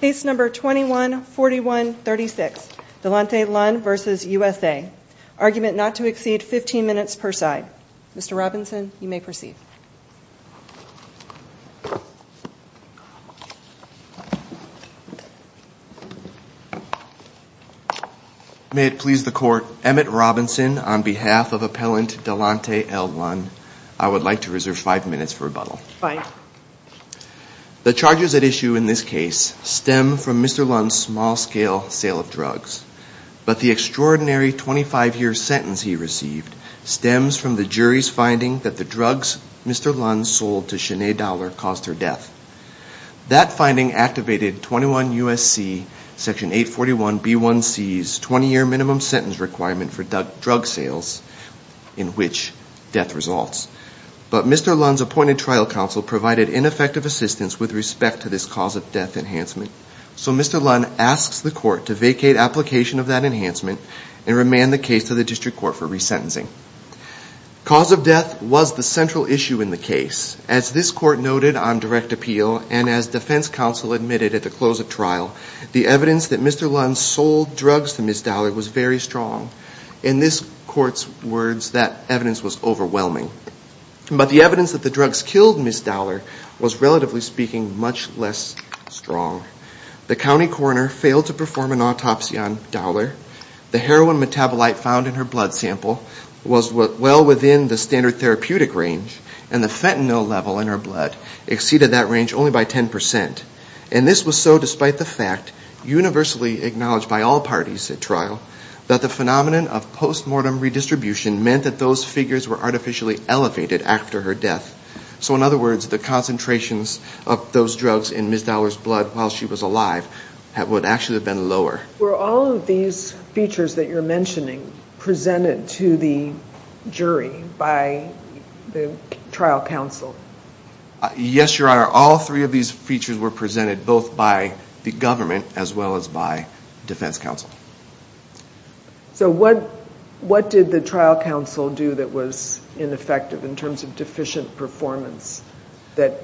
Case No. 21-4136, Delante Lunn v. USA. Argument not to exceed 15 minutes per side. Mr. Robinson, you may proceed. May it please the Court, Emmett Robinson on behalf of Appellant Delante L. Lunn, I would like to reserve 5 minutes for rebuttal. The charges at issue in this case stem from Mr. Lunn's small-scale sale of drugs, but the extraordinary 25-year sentence he received stems from the jury's finding that the drugs Mr. Lunn sold to Sinead Dollar caused her death. That finding activated 21 U.S.C. Section 841B1C's 20-year minimum sentence requirement for drug sales in which death results. But Mr. Lunn's appointed trial counsel provided ineffective assistance with respect to this cause of death enhancement. So Mr. Lunn asks the Court to vacate application of that enhancement and remand the case to the District Court for resentencing. Cause of death was the central issue in the case. As this Court noted on direct appeal and as defense counsel admitted at the close of trial, the evidence that Mr. Lunn sold drugs to Ms. Dollar was very strong. In this Court's words, that evidence was overwhelming. But the evidence that the drugs killed Ms. Dollar was relatively speaking much less strong. The county coroner failed to perform an autopsy on Dollar. The heroin metabolite found in her blood sample was well within the standard therapeutic range. And the fentanyl level in her blood exceeded that range only by 10%. And this was so despite the fact universally acknowledged by all parties at trial that the phenomenon of So in other words, the concentrations of those drugs in Ms. Dollar's blood while she was alive would actually have been lower. Were all of these features that you're mentioning presented to the jury by the trial counsel? Yes, Your Honor. All three of these features were presented both by the government as well as by defense counsel. So what did the trial counsel do that was ineffective in terms of deficient performance that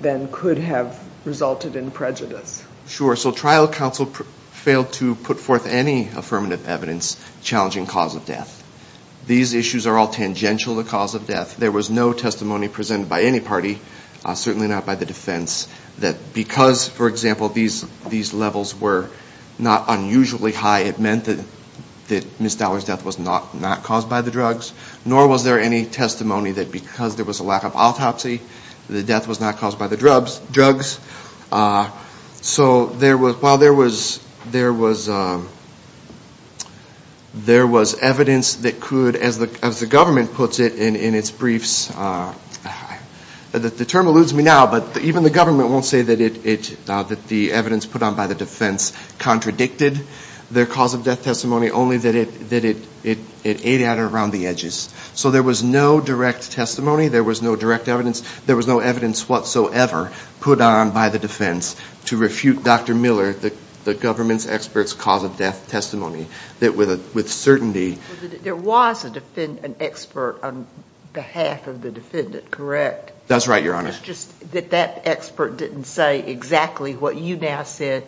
then could have resulted in prejudice? Sure. So trial counsel failed to put forth any affirmative evidence challenging cause of death. These issues are all tangential to cause of death. There was no testimony presented by any party, certainly not by the defense, that because, for example, these levels were not unusually high, it meant that Ms. Dollar's death was not caused by the drugs. Nor was there any testimony that because there was a lack of autopsy, the death was not caused by the drugs. So while there was evidence that could, as the government puts it in its briefs, the term eludes me now, but even the government won't say that the evidence put on by the defense contradicted their cause of death testimony, only that it ate at it around the edges. So there was no direct testimony, there was no direct evidence, there was no evidence whatsoever put on by the defense to refute Dr. Miller, the government's expert's cause of death testimony, that with certainty... There was an expert on behalf of the defendant, correct? That's right, Your Honor. It's just that that expert didn't say exactly what you now say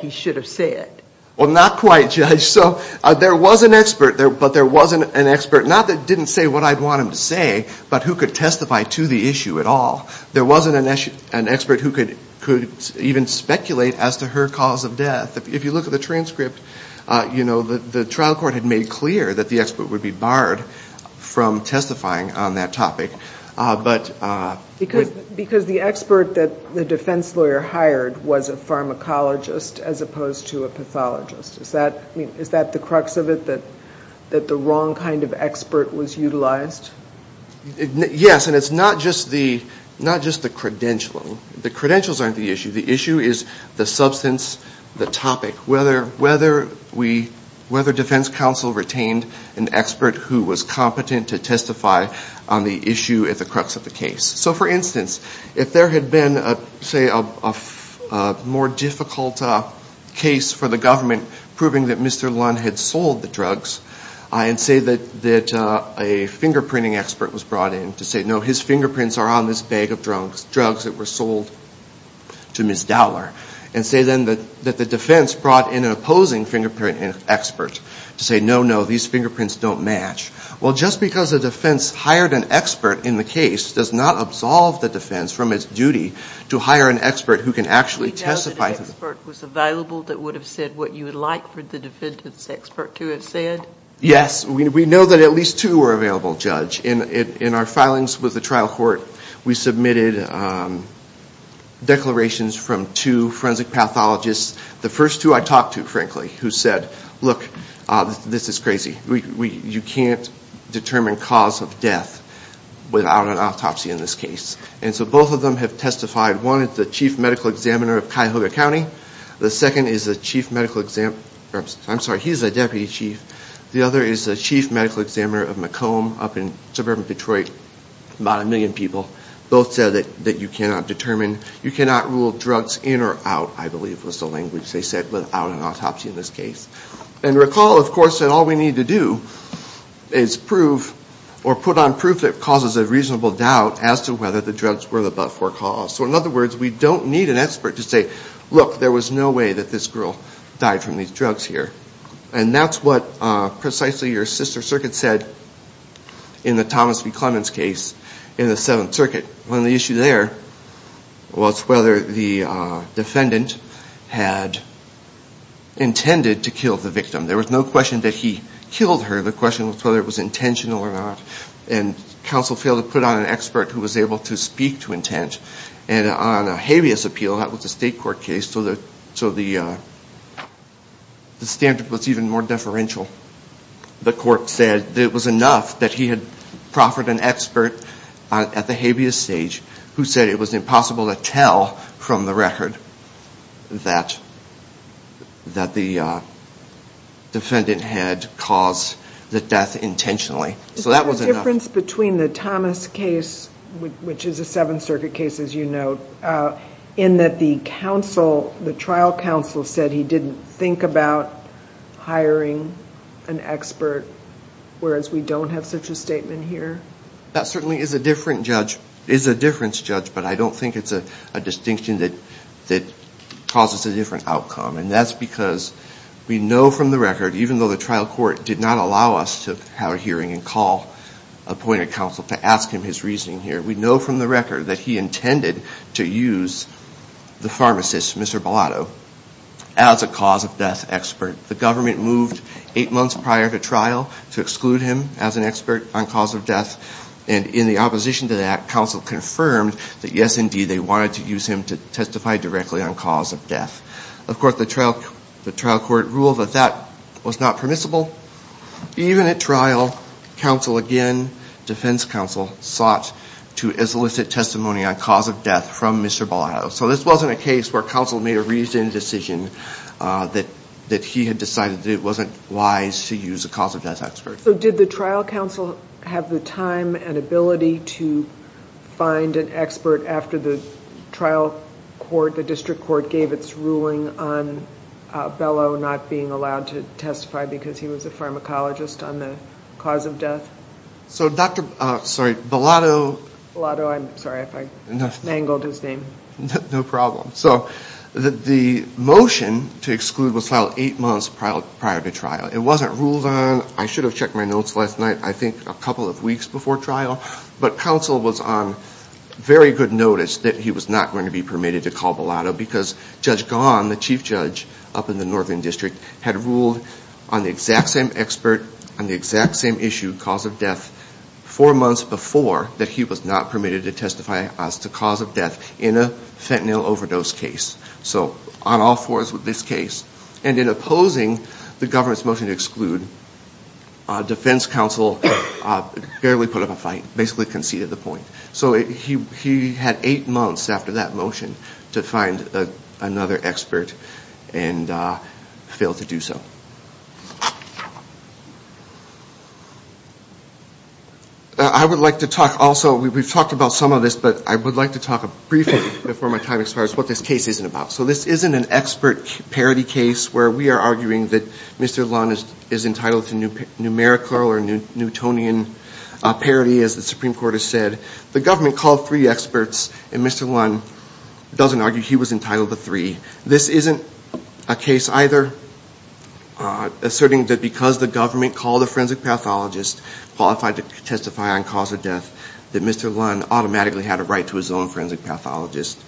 he should have said. Well, not quite, Judge. So there was an expert, but there wasn't an expert, not that didn't say what I'd want him to say, but who could testify to the issue at all. There wasn't an expert who could even speculate as to her cause of death. If you look at the transcript, you know, the trial court had made clear that the expert would be barred from testifying on that topic, but... Because the expert that the defense lawyer hired was a pharmacologist as opposed to a pathologist. Is that the crux of it, that the wrong kind of expert was utilized? Yes, and it's not just the credential. The credentials aren't the issue. The issue is the substance, the topic, whether defense counsel retained an expert who was a more difficult case for the government, proving that Mr. Lund had sold the drugs, and say that a fingerprinting expert was brought in to say, no, his fingerprints are on this bag of drugs that were sold to Ms. Dowler, and say then that the defense brought in an opposing fingerprinting expert to say, no, no, these are the kinds of things that you can't do. There's no expert who can actually testify... Do you know that an expert was available that would have said what you would like for the defendant's expert to have said? Yes, we know that at least two were available, Judge. In our filings with the trial court, we submitted declarations from two forensic pathologists, the first two I talked to, frankly, who said, look, this is crazy. You can't determine cause of death without an autopsy in this case. And so both of them have said that you cannot rule drugs in or out, I believe was the language they said, without an autopsy in this case. And recall, of course, that all we need to do is prove, or put on proof that causes a death. We need an expert to say, look, there was no way that this girl died from these drugs here. And that's what precisely your sister circuit said in the Thomas B. Clemens case in the Seventh Circuit, when the issue there was whether the defendant had intended to kill the victim. There was no question that he killed her. The question was whether it was appeal. That was a state court case, so the standard was even more deferential. The court said it was enough that he had proffered an expert at the habeas stage who said it was impossible to tell from the record that the defendant had caused the death intentionally. Is there a difference between the Thomas case, which is a Seventh Circuit case, as you note, in that the trial counsel said he didn't think about hiring an expert, whereas we don't have such a statement here? That certainly is a difference, Judge, but I don't think it's a distinction that causes a different outcome. And that's because we know from the record, even though the trial court did not allow us to have a hearing and call appointed counsel to ask him his reasoning here, we know from the record that he intended to use the pharmacist, Mr. Bellato, as a cause of death expert. The government moved eight months prior to trial to exclude him as an expert on cause of death, and in the opposition to that, counsel confirmed that yes, indeed, they wanted to use him to testify directly on cause of death. Of course, the trial court ruled that that was not permissible. Even at trial, counsel again, defense counsel, sought to elicit testimony on cause of death from Mr. Bellato. So this wasn't a case where counsel made a reasoned decision that he had decided that it wasn't wise to use a cause of death expert. So did the trial counsel have the time and ability to find an expert after the trial court, the district court, gave its ruling on Bellato not being allowed to testify because he was a pharmacologist on the cause of death? So Dr. Bellato, I'm sorry if I mangled his name. No problem. So the motion to exclude was filed eight months prior to trial. It wasn't ruled on. I should have checked my notes last night, I think a couple of weeks before trial, but counsel was on very good notice that he was not going to be permitted to call Bellato because Judge Gahan, the chief judge up in the northern district, had ruled on the exact same expert on the exact same issue, cause of death, four months before that he was not permitted to testify as to cause of death in a fentanyl overdose case. So on all fours with this case. And in opposing the government's motion to exclude, defense counsel barely put up a fight, basically conceded the point. So he had eight months after that motion to find another expert and failed to do so. I would like to talk also, we've talked about some of this, but I would like to talk briefly before my time expires, what this case isn't about. So this isn't an expert parody case where we are arguing that Mr. Lund is entitled to numerical or Newtonian parody as the Supreme Court has said. The government called three experts and Mr. Lund doesn't argue he was entitled to three. This isn't a case either. Asserting that because the government called a forensic pathologist qualified to testify on cause of death, that Mr. Lund automatically had a right to his own forensic pathologist.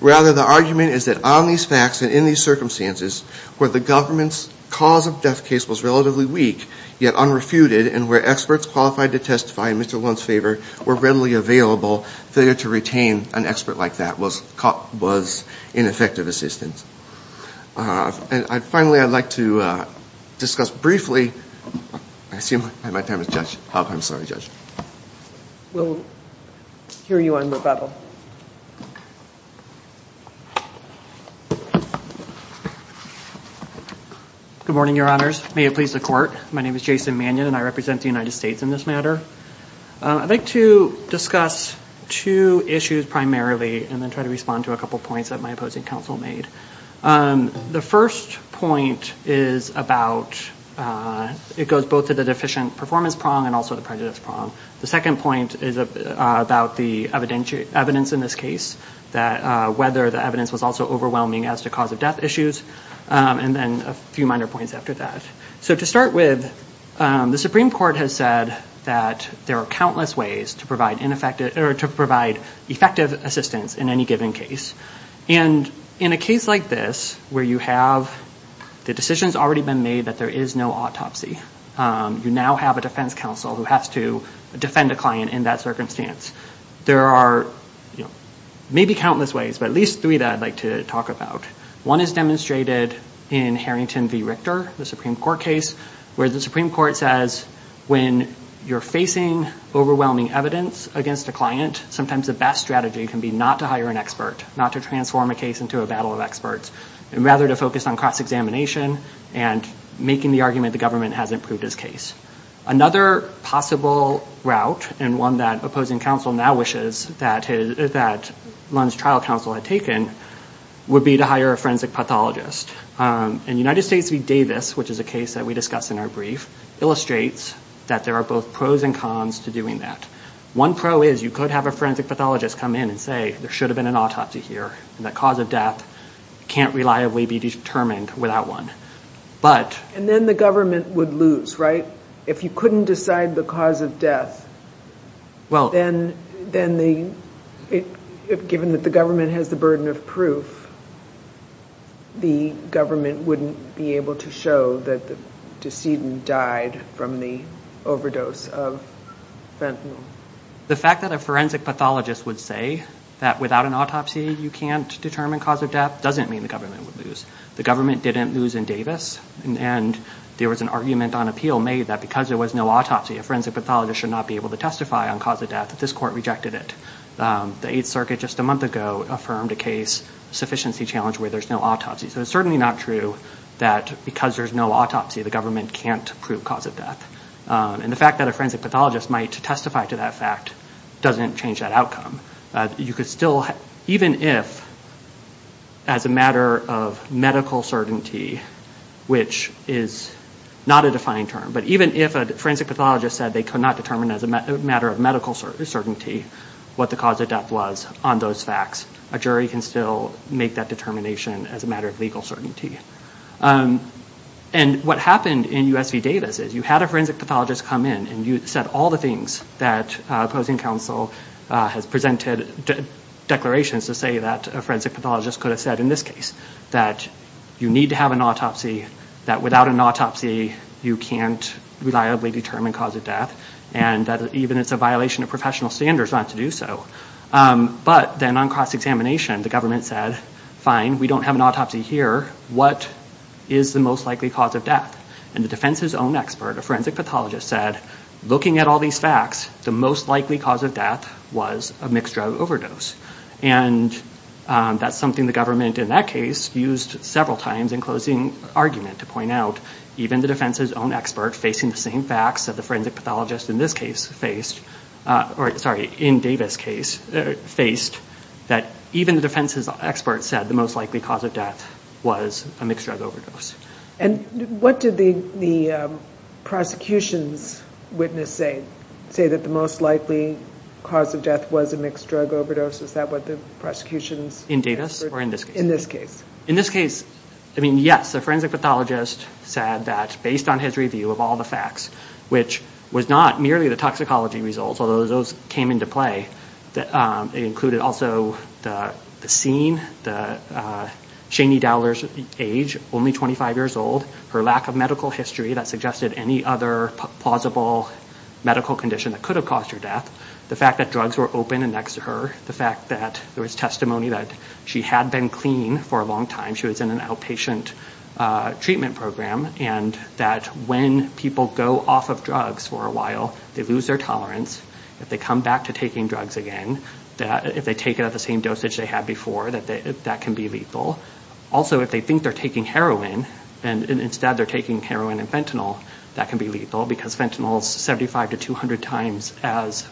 Rather, the argument is that on these facts and in these circumstances, where the government's cause of death case was relatively weak, yet unrefuted, and where experts qualified to testify in Mr. Lund's favor were readily available, failure to retain an expert like that was ineffective assistance. And finally, I'd like to discuss briefly, I assume my time is up. I'm sorry, Judge. We'll hear you on rebuttal. Good morning, Your Honors. May it please the Court. My name is Jason Mannion and I represent the United States in this matter. I'd like to discuss two issues primarily and then try to respond to a couple points that my opposing counsel made. The first point is about, it goes both to the deficient performance prong and also the prejudice prong. The second point is about the evidence in this case, that whether the evidence was also overwhelming as to cause of death issues. And then a few minor points after that. So to start with, the Supreme Court has said that there are countless ways to provide effective assistance in any given case. And in a case like this, where you have, the decision's already been made that there is no autopsy. You now have a defense counsel who has to defend a client in that circumstance. There are maybe countless ways, but at least three that I'd like to talk about. One is demonstrated in Harrington v. Richter, the Supreme Court case, where the Supreme Court says when you're facing overwhelming evidence against a client, sometimes the best strategy can be not to hire an expert, not to transform a case into a battle of experts, and rather to focus on cross-examination and making the argument the government hasn't proved his case. Another possible route, and one that opposing counsel now wishes that Lund's trial counsel had taken, would be to hire a forensic pathologist. And United States v. Davis, which is a case that we discussed in our brief, illustrates that there are both pros and cons to doing that. One pro is you could have a forensic pathologist come in and say, there should have been an autopsy here, and the cause of death can't reliably be determined without one. And then the government would lose, right? If you couldn't decide the cause of death, then given that the government has the burden of proof, the government wouldn't be able to show that the decedent died from the overdose of fentanyl. The fact that a forensic pathologist would say that without an autopsy you can't determine cause of death The government didn't lose in Davis, and there was an argument on appeal made that because there was no autopsy, a forensic pathologist should not be able to testify on cause of death, that this court rejected it. The Eighth Circuit just a month ago affirmed a case, a sufficiency challenge, where there's no autopsy. So it's certainly not true that because there's no autopsy the government can't prove cause of death. And the fact that a forensic pathologist might testify to that fact doesn't change that outcome. You could still, even if, as a matter of medical certainty, which is not a defined term, but even if a forensic pathologist said they could not determine as a matter of medical certainty what the cause of death was on those facts, a jury can still make that determination as a matter of legal certainty. And what happened in US v. Davis is you had a forensic pathologist come in, and you said all the things that opposing counsel has presented declarations to say that a forensic pathologist could have said in this case, that you need to have an autopsy, that without an autopsy you can't reliably determine cause of death, and that even it's a violation of professional standards not to do so. But then on cross-examination the government said, fine, we don't have an autopsy here, what is the most likely cause of death? And the defense's own expert, a forensic pathologist, said, looking at all these facts, the most likely cause of death was a mixed drug overdose. And that's something the government in that case used several times in closing argument to point out, even the defense's own expert facing the same facts that the forensic pathologist in this case faced, or sorry, in Davis' case faced, that even the defense's expert said the most likely cause of death was a mixed drug overdose. And what did the prosecution's witness say? Say that the most likely cause of death was a mixed drug overdose? Is that what the prosecution's? In Davis or in this case? In this case. In this case, I mean, yes, the forensic pathologist said that based on his review of all the facts, which was not merely the toxicology results, although those came into play, it included also the scene, Shanie Dowler's age, only 25 years old, her lack of medical history that suggested any other plausible medical condition that could have caused her death, the fact that drugs were open and next to her, the fact that there was testimony that she had been clean for a long time, she was in an outpatient treatment program, and that when people go off of drugs for a while, they lose their tolerance, if they come back to taking drugs again, if they take it at the same dosage they had before, that can be lethal. Also, if they think they're taking heroin and instead they're taking heroin and fentanyl, that can be lethal because fentanyl is 75 to 200 times as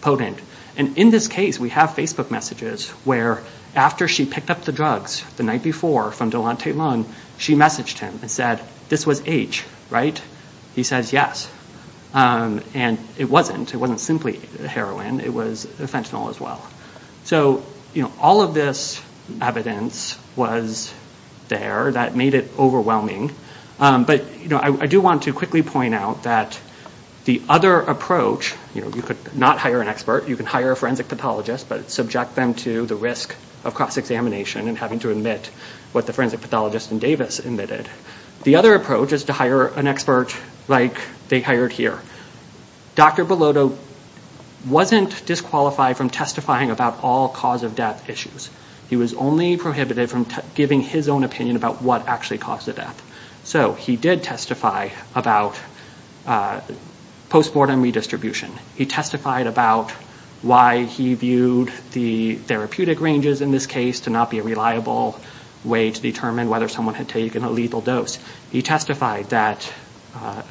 potent. And in this case, we have Facebook messages where after she picked up the drugs the night before from Delonte Lund, she messaged him and said, this was H, right? He says yes, and it wasn't, it wasn't simply heroin, it was fentanyl as well. So all of this evidence was there that made it overwhelming, but I do want to quickly point out that the other approach, you could not hire an expert, you could hire a forensic pathologist, but subject them to the risk of cross-examination and having to admit what the forensic pathologist in Davis admitted. The other approach is to hire an expert like they hired here. Dr. Bellotto wasn't disqualified from testifying about all cause of death issues. He was only prohibited from giving his own opinion about what actually caused the death. So he did testify about post-mortem redistribution. He testified about why he viewed the therapeutic ranges in this case to not be a reliable way to determine whether someone had taken a lethal dose. He testified that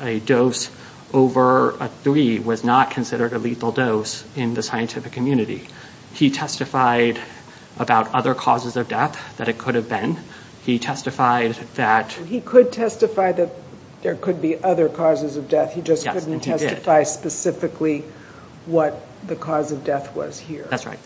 a dose over a three was not considered a lethal dose in the scientific community. He testified about other causes of death, that it could have been. He testified that- He could testify that there could be other causes of death, he just couldn't testify specifically what the cause of death was here. That's right.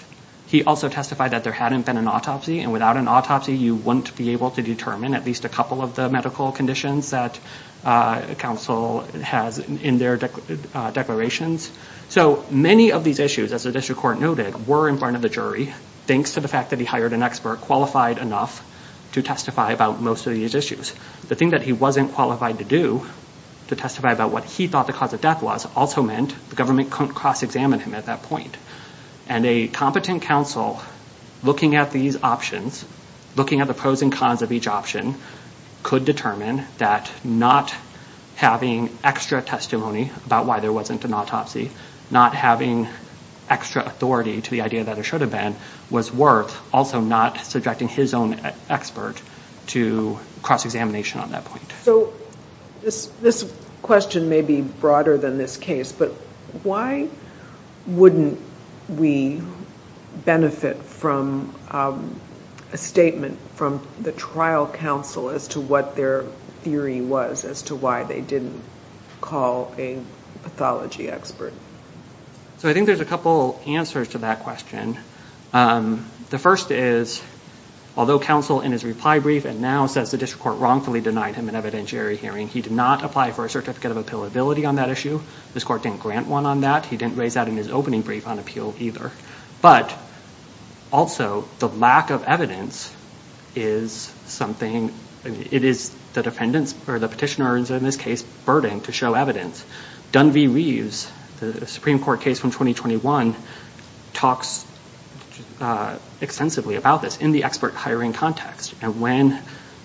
He also testified that there hadn't been an autopsy, and without an autopsy you wouldn't be able to determine at least a couple of the medical conditions that counsel has in their declarations. So many of these issues, as the district court noted, were in front of the jury, thanks to the fact that he hired an expert qualified enough to testify about most of these issues. The thing that he wasn't qualified to do to testify about what he thought the cause of death was also meant the government couldn't cross-examine him at that point. And a competent counsel looking at these options, looking at the pros and cons of each option, could determine that not having extra testimony about why there wasn't an autopsy, not having extra authority to the idea that it should have been, was worth also not subjecting his own expert to cross-examination on that point. So this question may be broader than this case, but why wouldn't we benefit from a statement from the trial counsel as to what their theory was, as to why they didn't call a pathology expert? So I think there's a couple answers to that question. The first is, although counsel in his reply brief and now says the district court wrongfully denied him an evidentiary hearing, he did not apply for a certificate of appealability on that issue. This court didn't grant one on that. He didn't raise that in his opening brief on appeal either. But also the lack of evidence is something, it is the petitioner's, in this case, burden to show evidence. Dunvey Reeves, the Supreme Court case from 2021, talks extensively about this in the expert hiring context. And when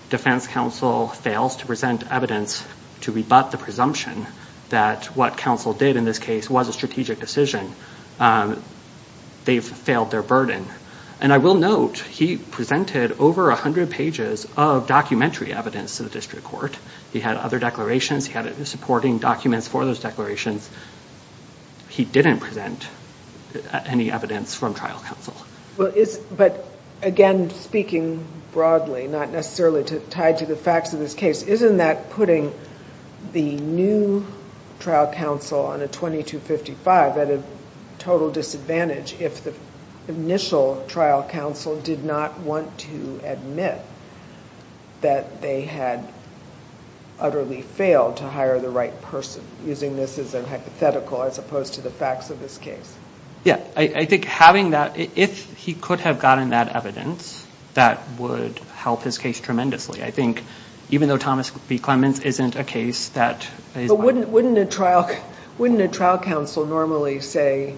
defense counsel fails to present evidence to rebut the presumption that what counsel did, in this case, was a strategic decision, they've failed their burden. And I will note he presented over 100 pages of documentary evidence to the district court. He had other declarations. He had supporting documents for those declarations. He didn't present any evidence from trial counsel. But again, speaking broadly, not necessarily tied to the facts of this case, isn't that putting the new trial counsel on a 2255 at a total disadvantage if the initial trial counsel did not want to admit that they had utterly failed to hire the right person, using this as a hypothetical as opposed to the facts of this case? Yeah, I think having that, if he could have gotten that evidence, that would help his case tremendously. I think even though Thomas B. Clements isn't a case that is... But wouldn't a trial counsel normally say,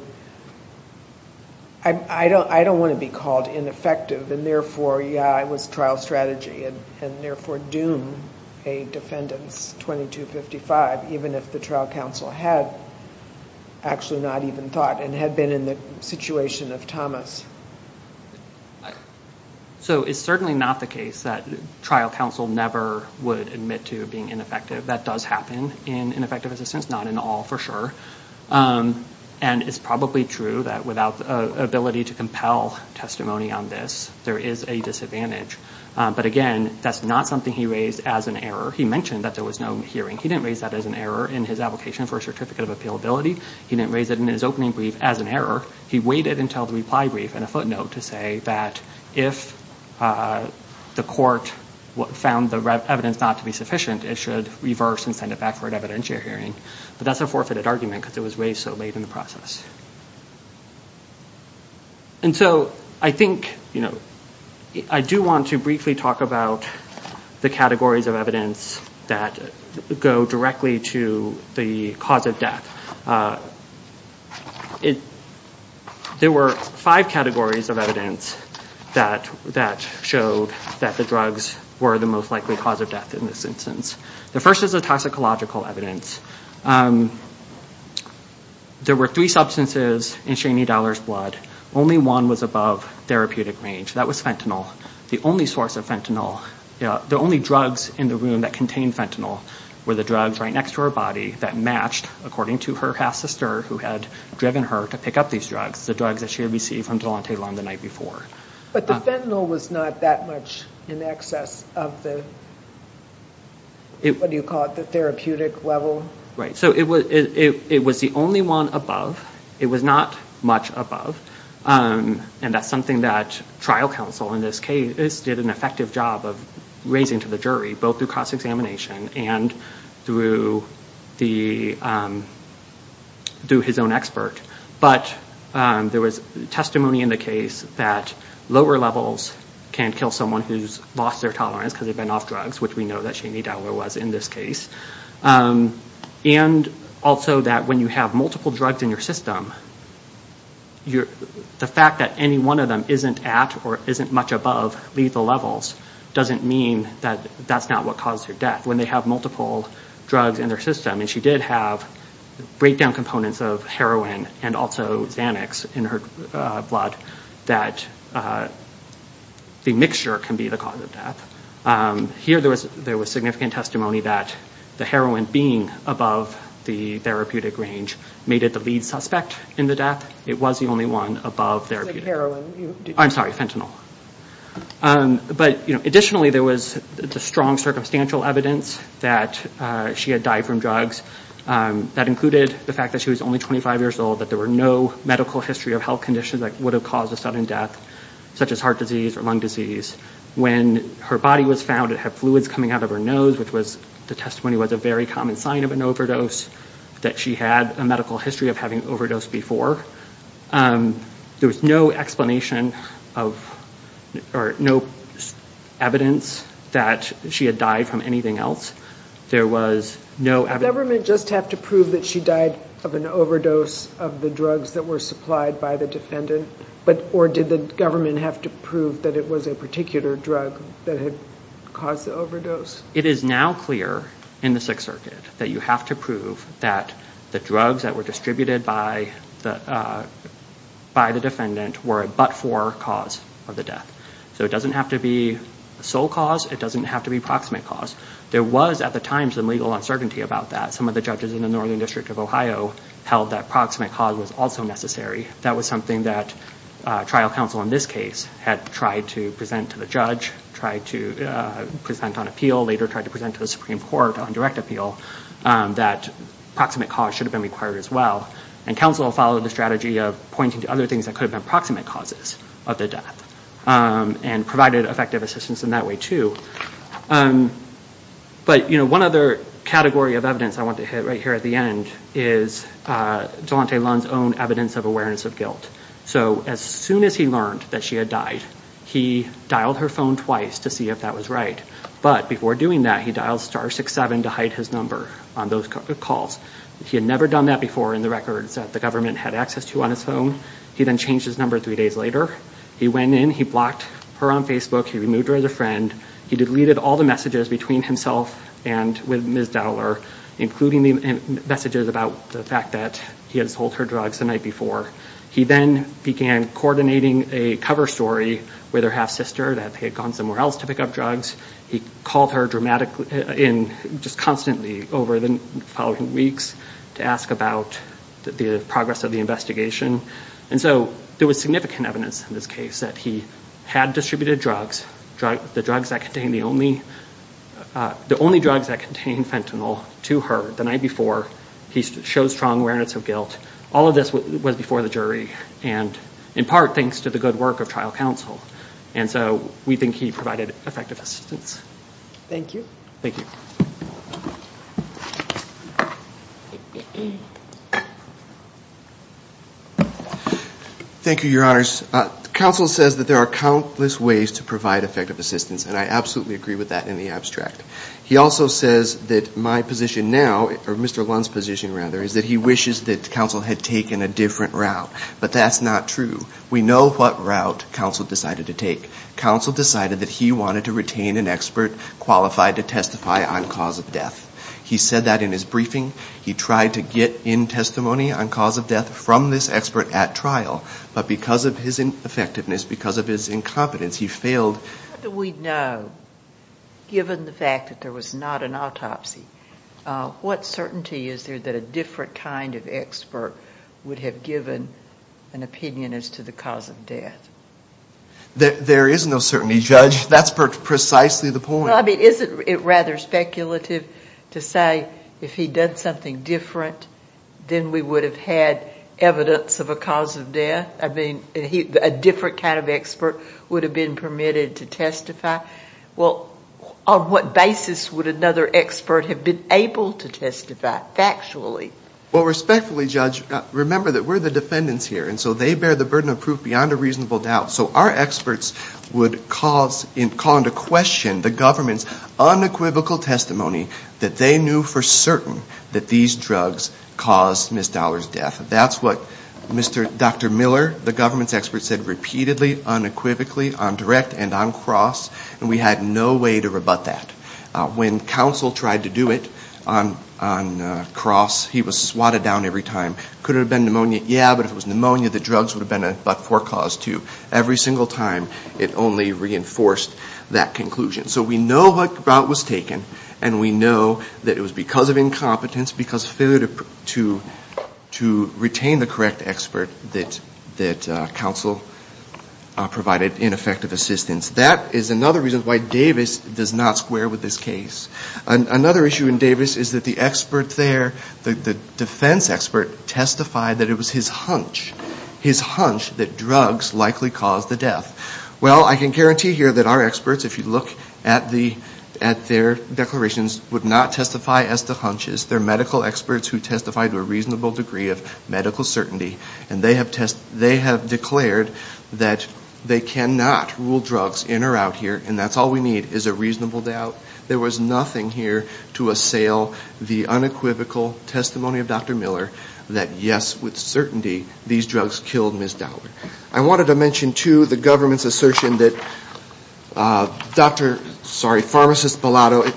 I don't want to be called ineffective, and therefore, yeah, it was trial strategy, and therefore doom a defendant's 2255, even if the trial counsel had actually not even thought and had been in the situation of Thomas? So it's certainly not the case that trial counsel never would admit to being ineffective. That does happen in ineffective assistance, not in all for sure. And it's probably true that without the ability to compel testimony on this, there is a disadvantage. But again, that's not something he raised as an error. He mentioned that there was no hearing. He didn't raise that as an error in his application for a certificate of appealability. He didn't raise it in his opening brief as an error. He waited until the reply brief and a footnote to say that if the court found the evidence not to be sufficient, it should reverse and send it back for an evidentiary hearing. But that's a forfeited argument because it was raised so late in the process. And so I think, you know, I do want to briefly talk about the categories of evidence that go directly to the cause of death. There were five categories of evidence that showed that the drugs were the most likely cause of death in this instance. The first is the toxicological evidence. There were three substances in Shani Dollar's blood. Only one was above therapeutic range. That was fentanyl. The only source of fentanyl, the only drugs in the room that contained fentanyl were the drugs right next to her body that matched, according to her half-sister who had driven her to pick up these drugs, the drugs that she had received from Delonte Long the night before. But the fentanyl was not that much in excess of the, what do you call it, the therapeutic level? Right. So it was the only one above. It was not much above. And that's something that trial counsel in this case did an effective job of raising to the jury, both through cost examination and through his own expert. But there was testimony in the case that lower levels can kill someone who's lost their tolerance because they've been off drugs, which we know that Shani Dollar was in this case. And also that when you have multiple drugs in your system, the fact that any one of them isn't at or isn't much above lethal levels doesn't mean that that's not what caused her death. When they have multiple drugs in their system, and she did have breakdown components of heroin and also Xanax in her blood, that the mixture can be the cause of death. Here there was significant testimony that the heroin being above the therapeutic range made it the lead suspect in the death. It was the only one above therapeutic. So heroin. I'm sorry, fentanyl. But additionally, there was the strong circumstantial evidence that she had died from drugs. That included the fact that she was only 25 years old, that there were no medical history of health conditions that would have caused a sudden death, such as heart disease or lung disease. When her body was found, it had fluids coming out of her nose, which the testimony was a very common sign of an overdose, that she had a medical history of having overdosed before. There was no explanation of, or no evidence that she had died from anything else. There was no evidence. Did the government just have to prove that she died of an overdose of the drugs that were supplied by the defendant? Or did the government have to prove that it was a particular drug that had caused the overdose? It is now clear in the Sixth Circuit that you have to prove that the drugs that were distributed by the defendant were a but-for cause of the death. So it doesn't have to be a sole cause. It doesn't have to be a proximate cause. There was, at the time, some legal uncertainty about that. Some of the judges in the Northern District of Ohio held that proximate cause was also necessary. That was something that trial counsel in this case had tried to present to the judge, tried to present on appeal, later tried to present to the Supreme Court on direct appeal, that proximate cause should have been required as well. And counsel followed the strategy of pointing to other things that could have been proximate causes of the death and provided effective assistance in that way too. But one other category of evidence I want to hit right here at the end is Delonte Lund's own evidence of awareness of guilt. So as soon as he learned that she had died, he dialed her phone twice to see if that was right. But before doing that, he dialed 667 to hide his number on those calls. He had never done that before in the records that the government had access to on his phone. He then changed his number three days later. He went in, he blocked her on Facebook, he removed her as a friend. He deleted all the messages between himself and Ms. Dowler, including the messages about the fact that he had sold her drugs the night before. He then began coordinating a cover story with her half-sister that they had gone somewhere else to pick up drugs. He called her just constantly over the following weeks to ask about the progress of the investigation. And so there was significant evidence in this case that he had distributed drugs, the only drugs that contained fentanyl, to her the night before. He showed strong awareness of guilt. All of this was before the jury and in part thanks to the good work of trial counsel. And so we think he provided effective assistance. Thank you. Thank you. Thank you, Your Honors. Counsel says that there are countless ways to provide effective assistance, and I absolutely agree with that in the abstract. He also says that my position now, or Mr. Lund's position rather, is that he wishes that counsel had taken a different route. But that's not true. We know what route counsel decided to take. Counsel decided that he wanted to retain an expert qualified to testify on cause of death. He said that in his briefing. He tried to get in testimony on cause of death from this expert at trial, but because of his ineffectiveness, because of his incompetence, he failed. How do we know, given the fact that there was not an autopsy, what certainty is there that a different kind of expert would have given an opinion as to the cause of death? There is no certainty, Judge. That's precisely the point. Well, I mean, isn't it rather speculative to say if he'd done something different, then we would have had evidence of a cause of death? I mean, a different kind of expert would have been permitted to testify? Well, on what basis would another expert have been able to testify, factually? Well, respectfully, Judge, remember that we're the defendants here, and so they bear the burden of proof beyond a reasonable doubt. So our experts would call into question the government's unequivocal testimony that they knew for certain that these drugs caused Ms. Dollar's death. That's what Dr. Miller, the government's expert, said repeatedly, unequivocally, on direct and on cross, and we had no way to rebut that. When counsel tried to do it on cross, he was swatted down every time. Could it have been pneumonia? Yeah, but if it was pneumonia, the drugs would have been a but-for cause too. Every single time, it only reinforced that conclusion. So we know what route was taken, and we know that it was because of incompetence, because failure to retain the correct expert that counsel provided ineffective assistance. That is another reason why Davis does not square with this case. Another issue in Davis is that the expert there, the defense expert, testified that it was his hunch, his hunch that drugs likely caused the death. Well, I can guarantee here that our experts, if you look at their declarations, would not testify as to hunches. They're medical experts who testify to a reasonable degree of medical certainty, and they have declared that they cannot rule drugs in or out here, and that's all we need is a reasonable doubt. There was nothing here to assail the unequivocal testimony of Dr. Miller that, yes, with certainty, these drugs killed Ms. Dollar. I wanted to mention, too, the government's assertion that Dr. –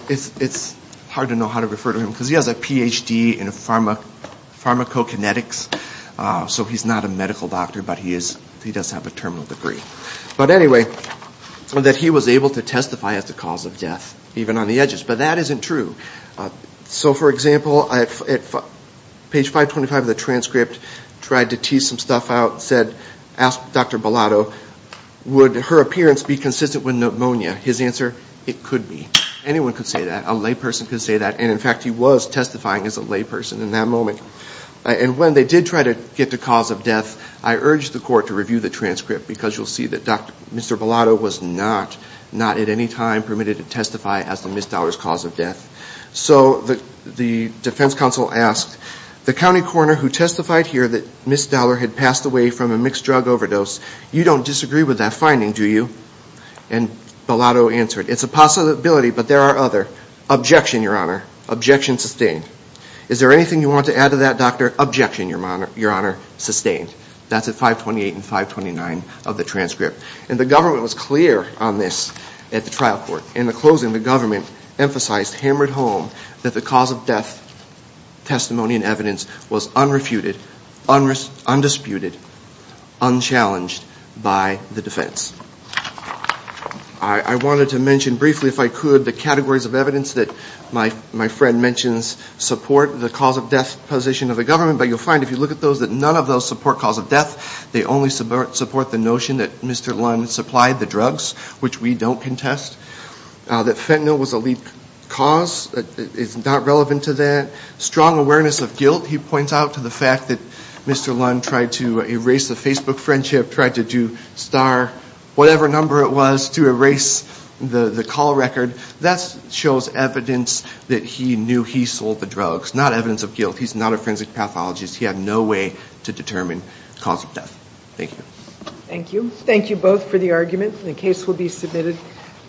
it's hard to know how to refer to him because he has a Ph.D. in pharmacokinetics, so he's not a medical doctor, but he does have a terminal degree. But anyway, that he was able to testify as the cause of death, even on the edges. But that isn't true. So, for example, at page 525 of the transcript, tried to tease some stuff out, said, asked Dr. Bellotto, would her appearance be consistent with pneumonia? His answer, it could be. Anyone could say that. A layperson could say that. And, in fact, he was testifying as a layperson in that moment. And when they did try to get the cause of death, I urged the court to review the transcript because you'll see that Mr. Bellotto was not, not at any time, permitted to testify as to Ms. Dollar's cause of death. So the defense counsel asked, the county coroner who testified here that Ms. Dollar had passed away from a mixed drug overdose, you don't disagree with that finding, do you? And Bellotto answered, it's a possibility, but there are other. Objection, Your Honor. Objection sustained. Is there anything you want to add to that, Doctor? Objection, Your Honor, sustained. That's at 528 and 529 of the transcript. And the government was clear on this at the trial court. In the closing, the government emphasized, hammered home, that the cause of death testimony and evidence was unrefuted, undisputed, unchallenged by the defense. I wanted to mention briefly, if I could, the categories of evidence that my friend mentions support the cause of death position of the government, but you'll find if you look at those that none of those support cause of death. They only support the notion that Mr. Lund supplied the drugs, which we don't contest, that fentanyl was a lead cause. It's not relevant to that. Strong awareness of guilt. He points out to the fact that Mr. Lund tried to erase the Facebook friendship, tried to star whatever number it was to erase the call record. That shows evidence that he knew he sold the drugs. Not evidence of guilt. He's not a forensic pathologist. He had no way to determine cause of death. Thank you. Thank you. Thank you both for the argument. The case will be submitted.